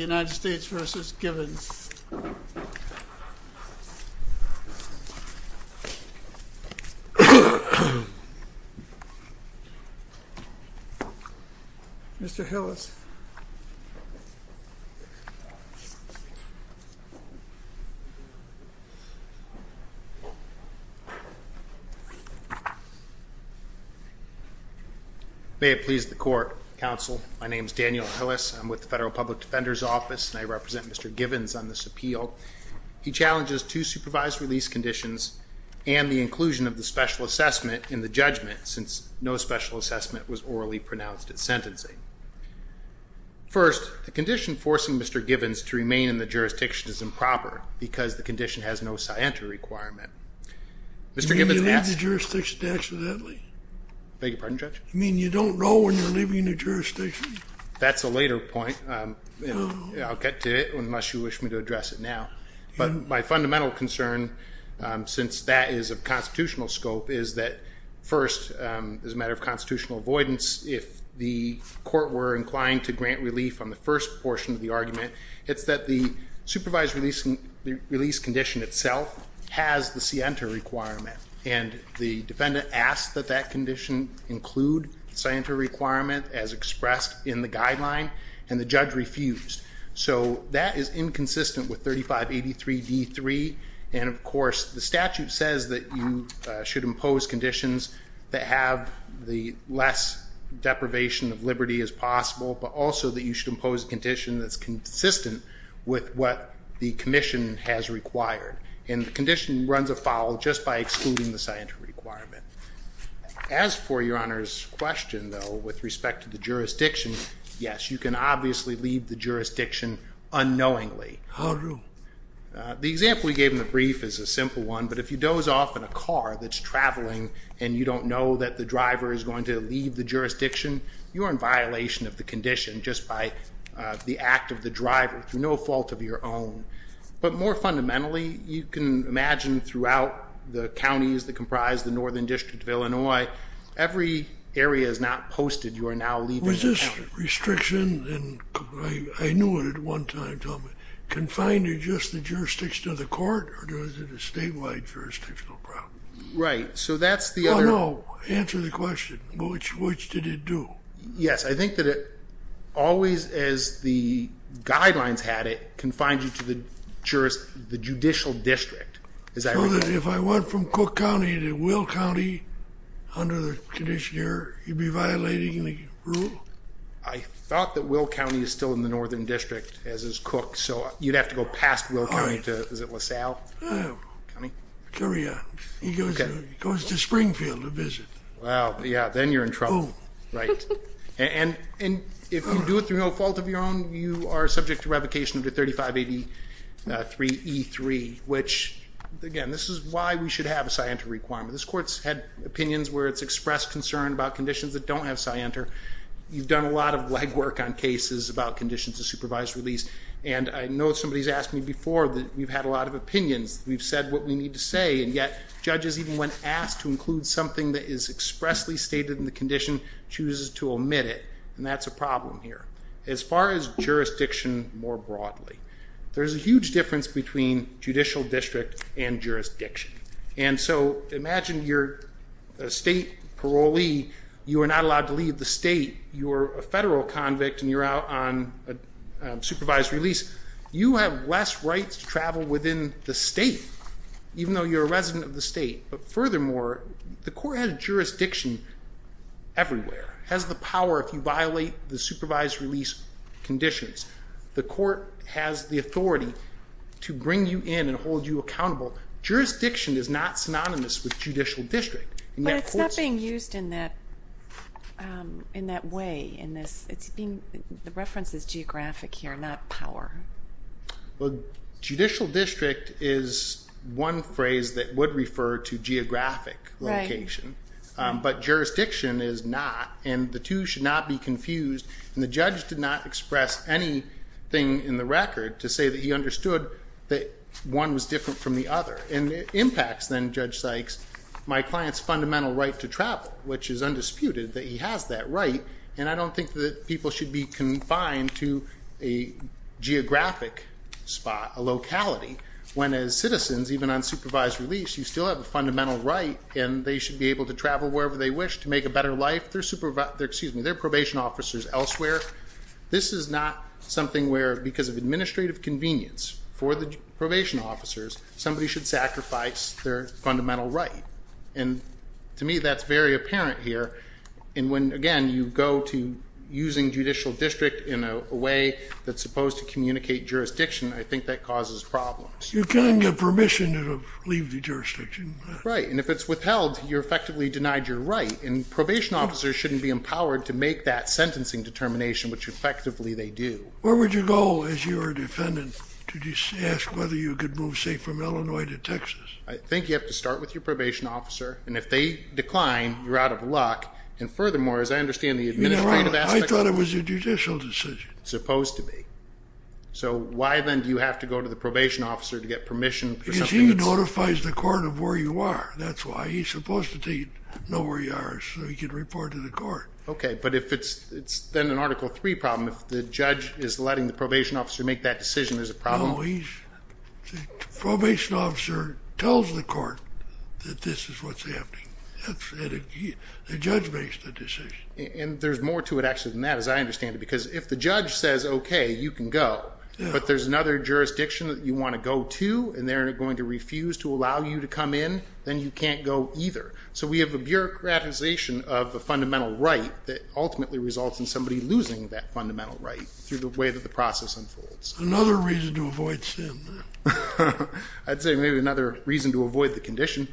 United States v. Givens Mr. Hillis May it please the court, counsel. My name is Daniel Hillis. I'm with the Federal Public Defender's Office and I represent Mr. Givens on this appeal. He challenges two supervised release conditions and the inclusion of the special assessment in the judgment since no special assessment was orally pronounced at sentencing. First, the condition forcing Mr. Givens to remain in the jurisdiction is improper because the condition has no scientific requirement. Did you leave the jurisdiction accidentally? I beg your pardon, Judge? You mean you don't know when you're leaving the jurisdiction? That's a later point. I'll get to it unless you wish me to address it now. But my fundamental concern, since that is of constitutional scope, is that first, as a matter of constitutional avoidance, if the court were inclined to grant relief on the first portion of the argument, it's that the supervised release condition itself has the scienter requirement. And the defendant asked that that condition include the scienter requirement as expressed in the guideline and the judge refused. So that is inconsistent with 3583 D3 and of course the statute says that you should impose conditions that have the less deprivation of liberty as possible but also that you should impose a condition that's consistent with what the commission has required. And the condition runs afoul just by excluding the scienter requirement. As for your Honor's question, though, with respect to the jurisdiction, yes, you can obviously leave the jurisdiction unknowingly. How do? The example you gave in the brief is a simple one, but if you doze off in a car that's traveling and you don't know that the driver is going to leave the jurisdiction, you're in violation of the condition just by the act of the driver through no fault of your own. But more fundamentally, you can imagine throughout the counties that comprise the Northern District of Illinois, every area is not posted, you are now leaving the county. Was this restriction, and I knew it at one time, Tom, confined to just the jurisdiction of the court or was it a statewide jurisdictional problem? Right, so that's the other... Oh no, answer the question, which did it do? Yes, I think that it always, as the guidelines had it, confined you to the judicial district. So that if I went from Cook County to Will County under the condition here, you'd be violating the rule? I thought that Will County is still in the Northern District, as is Cook, so you'd have to go past Will County to, is it LaSalle County? Sure, yeah. He goes to Springfield to visit. Wow, yeah, then you're in trouble, right. And if you do it through no fault of your own, you are subject to revocation under 3583E3, which, again, this is why we should have a scienter requirement. This court's had opinions where it's expressed concern about conditions that don't have scienter. You've done a lot of legwork on cases about conditions of supervised release, and I know somebody's asked me before that we've had a lot of opinions. We've said what we need to say, and yet judges, even when asked to include something that is expressly stated in the condition, chooses to omit it. And that's a problem here. As far as jurisdiction more broadly, there's a huge difference between judicial district and jurisdiction. And so imagine you're a state parolee. You are not allowed to leave the state. You're a federal convict, and you're out on supervised release. You have less rights to travel within the state, even though you're a resident of the state. But furthermore, the court has jurisdiction everywhere, has the power if you violate the supervised release conditions. The court has the authority to bring you in and hold you accountable. Jurisdiction is not synonymous with judicial district. But it's not being used in that way. The reference is geographic here, not power. Well, judicial district is one phrase that would refer to geographic location. But jurisdiction is not, and the two should not be confused. And the judge did not express anything in the record to say that he understood that one was different from the other. And it impacts then, Judge Sykes, my client's fundamental right to travel, which is undisputed that he has that right. And I don't think that people should be confined to a geographic spot, a locality. When as citizens, even on supervised release, you still have a fundamental right and they should be able to travel wherever they wish to make a better life. They're probation officers elsewhere. This is not something where because of administrative convenience for the probation officers, somebody should sacrifice their fundamental right. And to me, that's very apparent here. And when, again, you go to using judicial district in a way that's supposed to communicate jurisdiction, I think that causes problems. You can't get permission to leave the jurisdiction. Right. And if it's withheld, you're effectively denied your right. And probation officers shouldn't be empowered to make that sentencing determination, which effectively they do. Where would you go as your defendant to ask whether you could move, say, from Illinois to Texas? I think you have to start with your probation officer. And if they decline, you're out of luck. And furthermore, as I understand the administrative aspect of it. I thought it was a judicial decision. It's supposed to be. So why then do you have to go to the probation officer to get permission for something that's... Because he notifies the court of where you are. That's why. He's supposed to know where you are so he can report to the court. Okay. But if it's then an Article III problem, if the judge is letting the probation officer make that decision, there's a problem? No. The probation officer tells the court that this is what's happening. The judge makes the decision. And there's more to it, actually, than that, as I understand it. Because if the judge says, okay, you can go, but there's another jurisdiction that you want to go to, and they're going to refuse to allow you to come in, then you can't go either. So we have a bureaucratization of a fundamental right that ultimately results in somebody losing that fundamental right through the way that the process unfolds. Another reason to avoid sin. I'd say maybe another reason to avoid the condition.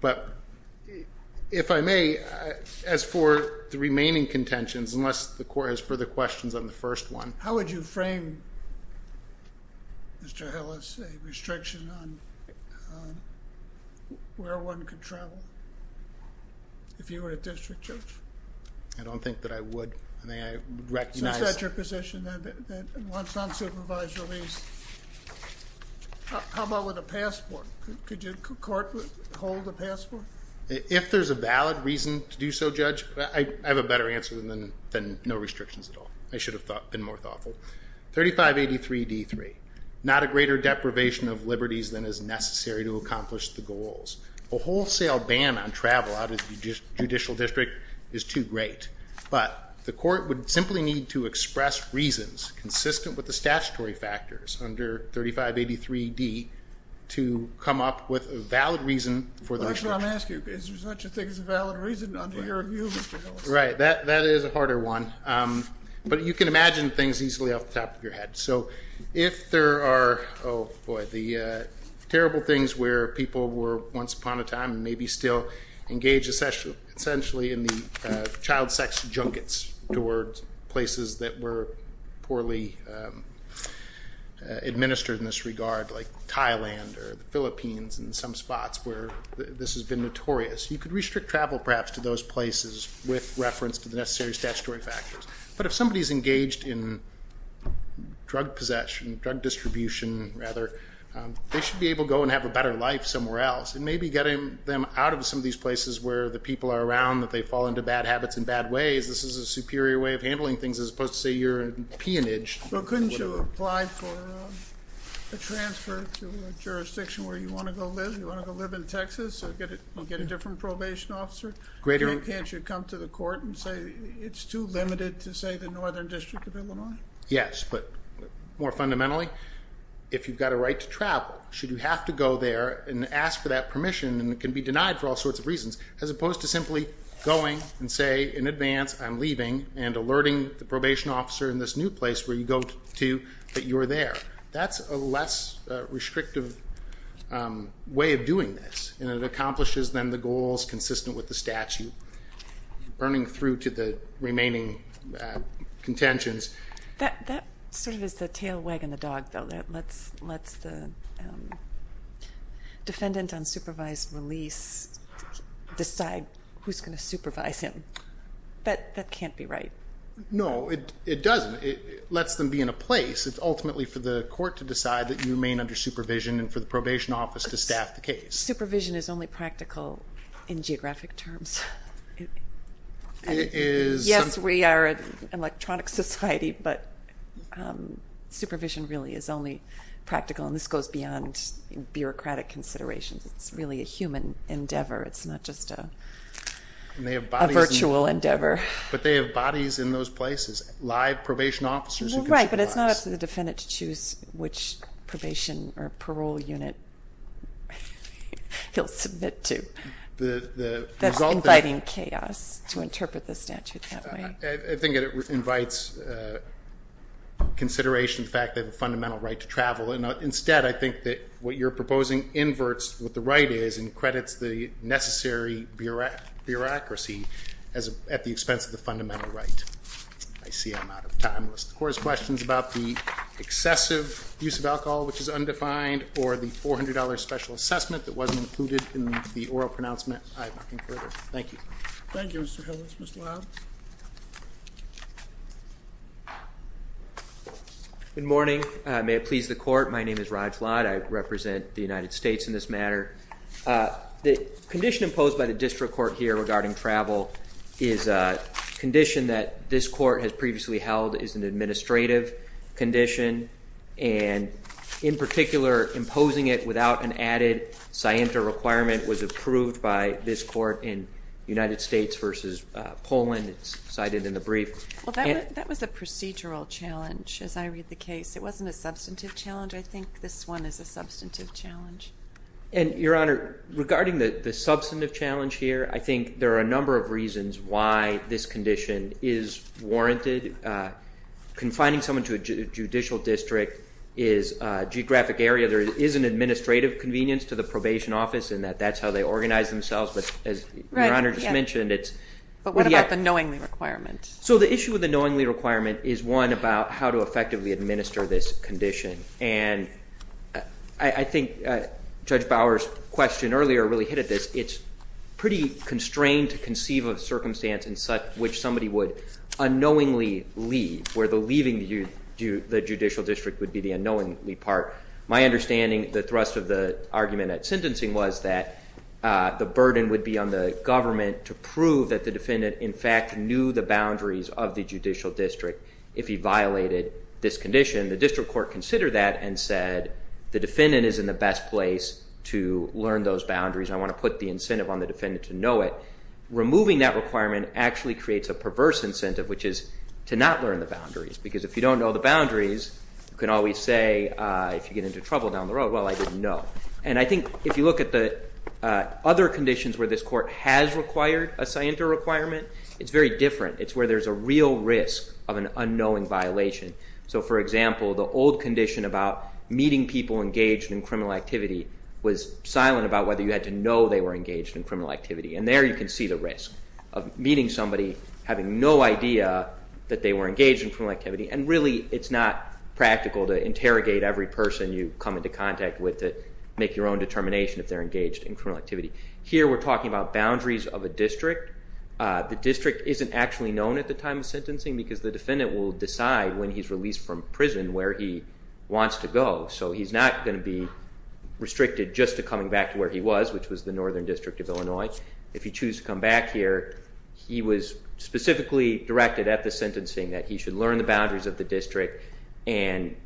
But if I may, as for the remaining contentions, unless the court has further questions on the first one. How would you frame, Mr. Hillis, a restriction on where one can travel if you were a district judge? I don't think that I would. I think I would recognize. So is that your position, that once unsupervised release, how about with a passport? Could you hold a passport? If there's a valid reason to do so, Judge, I have a better answer than no restrictions at all. I should have been more thoughtful. 3583D3, not a greater deprivation of liberties than is necessary to accomplish the goals. A wholesale ban on travel out of the judicial district is too great. But the court would simply need to express reasons consistent with the statutory factors under 3583D to come up with a valid reason for the restriction. That's what I'm asking. Is there such a thing as a valid reason under your view, Mr. Hillis? Right. That is a harder one. But you can imagine things easily off the top of your head. So if there are, oh, boy, the terrible things where people were once upon a time, and maybe still engage essentially in the child sex junkets towards places that were poorly administered in this regard, like Thailand or the Philippines and some spots where this has been notorious, you could restrict travel perhaps to those places with reference to the necessary statutory factors. But if somebody is engaged in drug possession, drug distribution, rather, they should be able to go and have a better life somewhere else. And maybe getting them out of some of these places where the people are around, that they fall into bad habits in bad ways, this is a superior way of handling things as opposed to, say, your peonage. Couldn't you apply for a transfer to a jurisdiction where you want to go live? You want to go live in Texas and get a different probation officer? Can't you come to the court and say it's too limited to, say, the Northern District of Illinois? Yes, but more fundamentally, if you've got a right to travel, should you have to go there and ask for that permission and it can be denied for all sorts of reasons as opposed to simply going and say in advance I'm leaving and alerting the probation officer in this new place where you go to that you're there. That's a less restrictive way of doing this, and it accomplishes then the goals consistent with the statute, burning through to the remaining contentions. That sort of is the tail wagging the dog, though, that lets the defendant on supervised release decide who's going to supervise him. That can't be right. No, it doesn't. It lets them be in a place. It's ultimately for the court to decide that you remain under supervision and for the probation office to staff the case. Supervision is only practical in geographic terms. Yes, we are an electronic society, but supervision really is only practical, and this goes beyond bureaucratic considerations. It's really a human endeavor. It's not just a virtual endeavor. But they have bodies in those places, live probation officers who can supervise. Right, but it's not up to the defendant to choose which probation or parole unit he'll submit to. That's inviting chaos to interpret the statute, can't we? I think it invites consideration of the fact they have a fundamental right to travel. Instead, I think that what you're proposing inverts what the right is and credits the necessary bureaucracy at the expense of the fundamental right. I see I'm out of time. If the Court has questions about the excessive use of alcohol, which is undefined, or the $400 special assessment that wasn't included in the oral pronouncement, I have nothing further. Thank you. Thank you, Mr. Hillis. Mr. Lott? Good morning. May it please the Court, my name is Raj Lott. I represent the United States in this matter. The condition imposed by the District Court here regarding travel is a condition that this Court has previously held is an administrative condition, and in particular imposing it without an added scienta requirement was approved by this Court in the United States versus Poland. It's cited in the brief. That was a procedural challenge, as I read the case. It wasn't a substantive challenge. I think this one is a substantive challenge. And, Your Honor, regarding the substantive challenge here, I think there are a number of reasons why this condition is warranted. Confining someone to a judicial district is a geographic area. There is an administrative convenience to the probation office in that that's how they organize themselves, but as Your Honor just mentioned. But what about the knowingly requirement? So the issue with the knowingly requirement is, one, about how to effectively administer this condition. And I think Judge Bower's question earlier really hit at this. It's pretty constrained to conceive of a circumstance in which somebody would unknowingly leave, where the leaving the judicial district would be the unknowingly part. My understanding, the thrust of the argument at sentencing was that the burden would be on the government to prove that the defendant, in fact, knew the boundaries of the judicial district if he violated this condition. The district court considered that and said, the defendant is in the best place to learn those boundaries. I want to put the incentive on the defendant to know it. Removing that requirement actually creates a perverse incentive, which is to not learn the boundaries. Because if you don't know the boundaries, you can always say, if you get into trouble down the road, well, I didn't know. And I think if you look at the other conditions where this court has required a scienter requirement, it's very different. It's where there's a real risk of an unknowing violation. So, for example, the old condition about meeting people engaged in criminal activity was silent about whether you had to know they were engaged in criminal activity. And there you can see the risk of meeting somebody, having no idea that they were engaged in criminal activity, and really it's not practical to interrogate every person you come into contact with to make your own determination if they're engaged in criminal activity. Here we're talking about boundaries of a district. The district isn't actually known at the time of sentencing because the defendant will decide when he's released from prison where he wants to go. So he's not going to be restricted just to coming back to where he was, which was the Northern District of Illinois. If you choose to come back here, he was specifically directed at the sentencing that he should learn the boundaries of the district and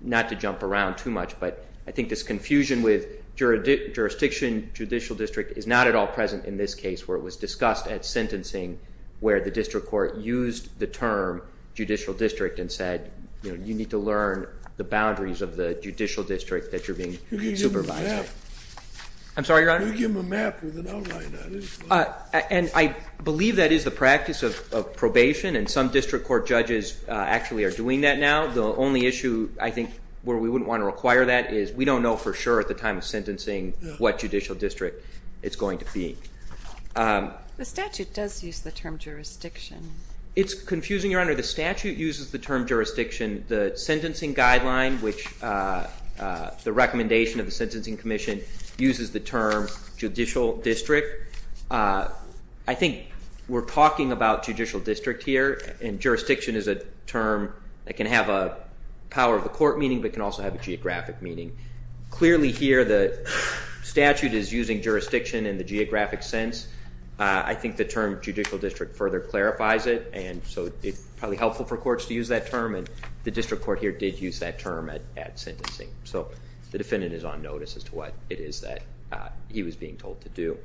not to jump around too much. But I think this confusion with jurisdiction, judicial district, is not at all present in this case where it was discussed at sentencing where the district court used the term judicial district and said you need to learn the boundaries of the judicial district that you're being supervised. Who gave him a map? I'm sorry, Your Honor? Who gave him a map with an outline on it? And I believe that is the practice of probation, and some district court judges actually are doing that now. The only issue I think where we wouldn't want to require that is we don't know for sure at the time of sentencing what judicial district it's going to be. The statute does use the term jurisdiction. It's confusing, Your Honor. The statute uses the term jurisdiction. The sentencing guideline, the recommendation of the Sentencing Commission, uses the term judicial district. I think we're talking about judicial district here, and jurisdiction is a term that can have a power of the court meaning but can also have a geographic meaning. Clearly here the statute is using jurisdiction in the geographic sense. I think the term judicial district further clarifies it, and so it's probably helpful for courts to use that term, and the district court here did use that term at sentencing. So the defendant is on notice as to what it is that he was being told to do.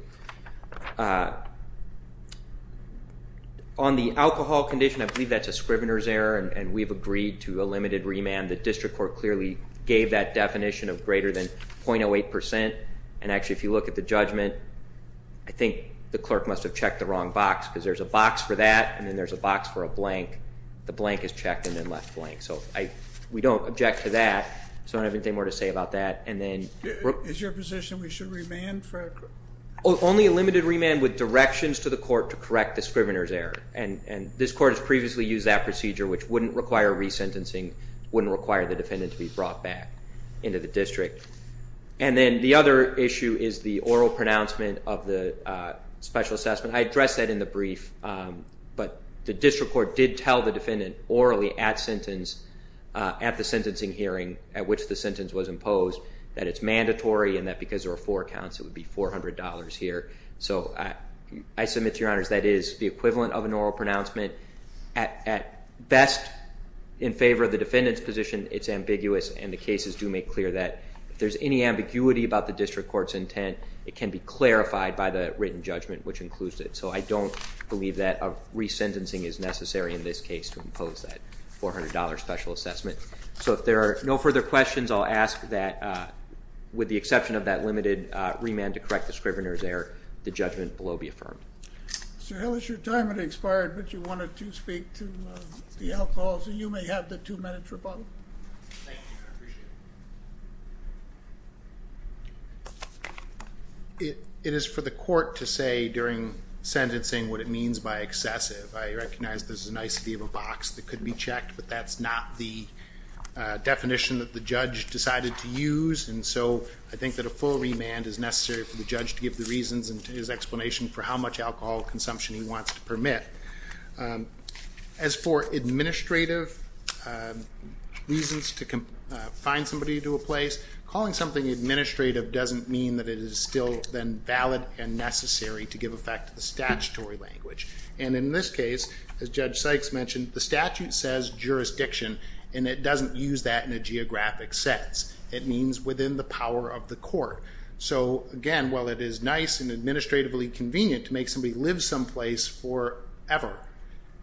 On the alcohol condition, I believe that's a scrivener's error, and we've agreed to a limited remand. The district court clearly gave that definition of greater than 0.08%, and actually if you look at the judgment, I think the clerk must have checked the wrong box because there's a box for that, and then there's a box for a blank. The blank is checked and then left blank. So we don't object to that. I don't have anything more to say about that. Is your position we should remand? Only a limited remand with directions to the court to correct the scrivener's error, and this court has previously used that procedure, which wouldn't require resentencing, wouldn't require the defendant to be brought back into the district. And then the other issue is the oral pronouncement of the special assessment. I addressed that in the brief, but the district court did tell the defendant orally at the sentencing hearing at which the sentence was imposed that it's mandatory and that because there are four counts it would be $400 here. So I submit to your honors that is the equivalent of an oral pronouncement. At best, in favor of the defendant's position, it's ambiguous, and the cases do make clear that. If there's any ambiguity about the district court's intent, it can be clarified by the written judgment, which includes it. So I don't believe that resentencing is necessary in this case to impose that $400 special assessment. So if there are no further questions, I'll ask that with the exception of that limited remand to correct the scrivener's error, the judgment below be affirmed. Mr. Hill, it's your time. It expired, but you wanted to speak to the alcohol, so you may have the two minutes or both. Thank you. I appreciate it. It is for the court to say during sentencing what it means by excessive. I recognize this is an icity of a box that could be checked, but that's not the definition that the judge decided to use, and so I think that a full remand is necessary for the judge to give the reasons and his explanation for how much alcohol consumption he wants to permit. As for administrative reasons to confine somebody to a place, calling something administrative doesn't mean that it is still then valid and necessary to give effect to the statutory language. And in this case, as Judge Sykes mentioned, the statute says jurisdiction, and it doesn't use that in a geographic sense. It means within the power of the court. So, again, while it is nice and administratively convenient to make somebody live someplace forever,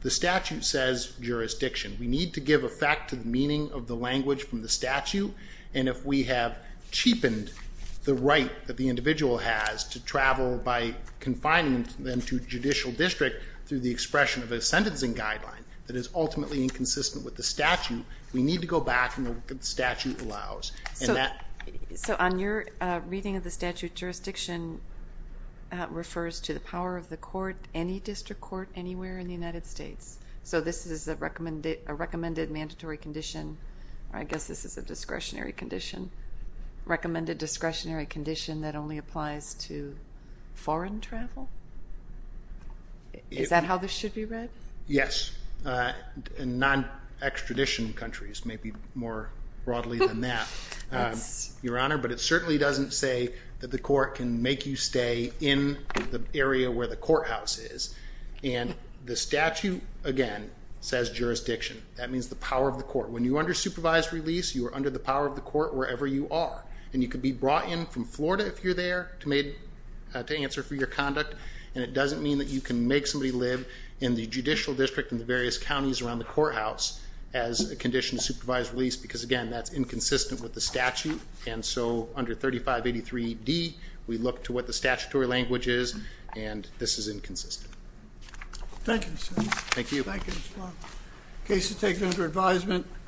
the statute says jurisdiction. We need to give effect to the meaning of the language from the statute, and if we have cheapened the right that the individual has to travel by confining them to a judicial district through the expression of a sentencing guideline that is ultimately inconsistent with the statute, we need to go back to what the statute allows. So on your reading of the statute, jurisdiction refers to the power of the court, any district court anywhere in the United States. So this is a recommended mandatory condition, or I guess this is a discretionary condition, recommended discretionary condition that only applies to foreign travel? Is that how this should be read? Yes, in non-extradition countries, maybe more broadly than that, Your Honor. But it certainly doesn't say that the court can make you stay in the area where the courthouse is. And the statute, again, says jurisdiction. That means the power of the court. And you could be brought in from Florida if you're there to answer for your conduct, and it doesn't mean that you can make somebody live in the judicial district in the various counties around the courthouse as a condition of supervised release, because, again, that's inconsistent with the statute. And so under 3583D, we look to what the statutory language is, and this is inconsistent. Thank you, sir. Thank you. Thank you as well. Case is taken under advisement.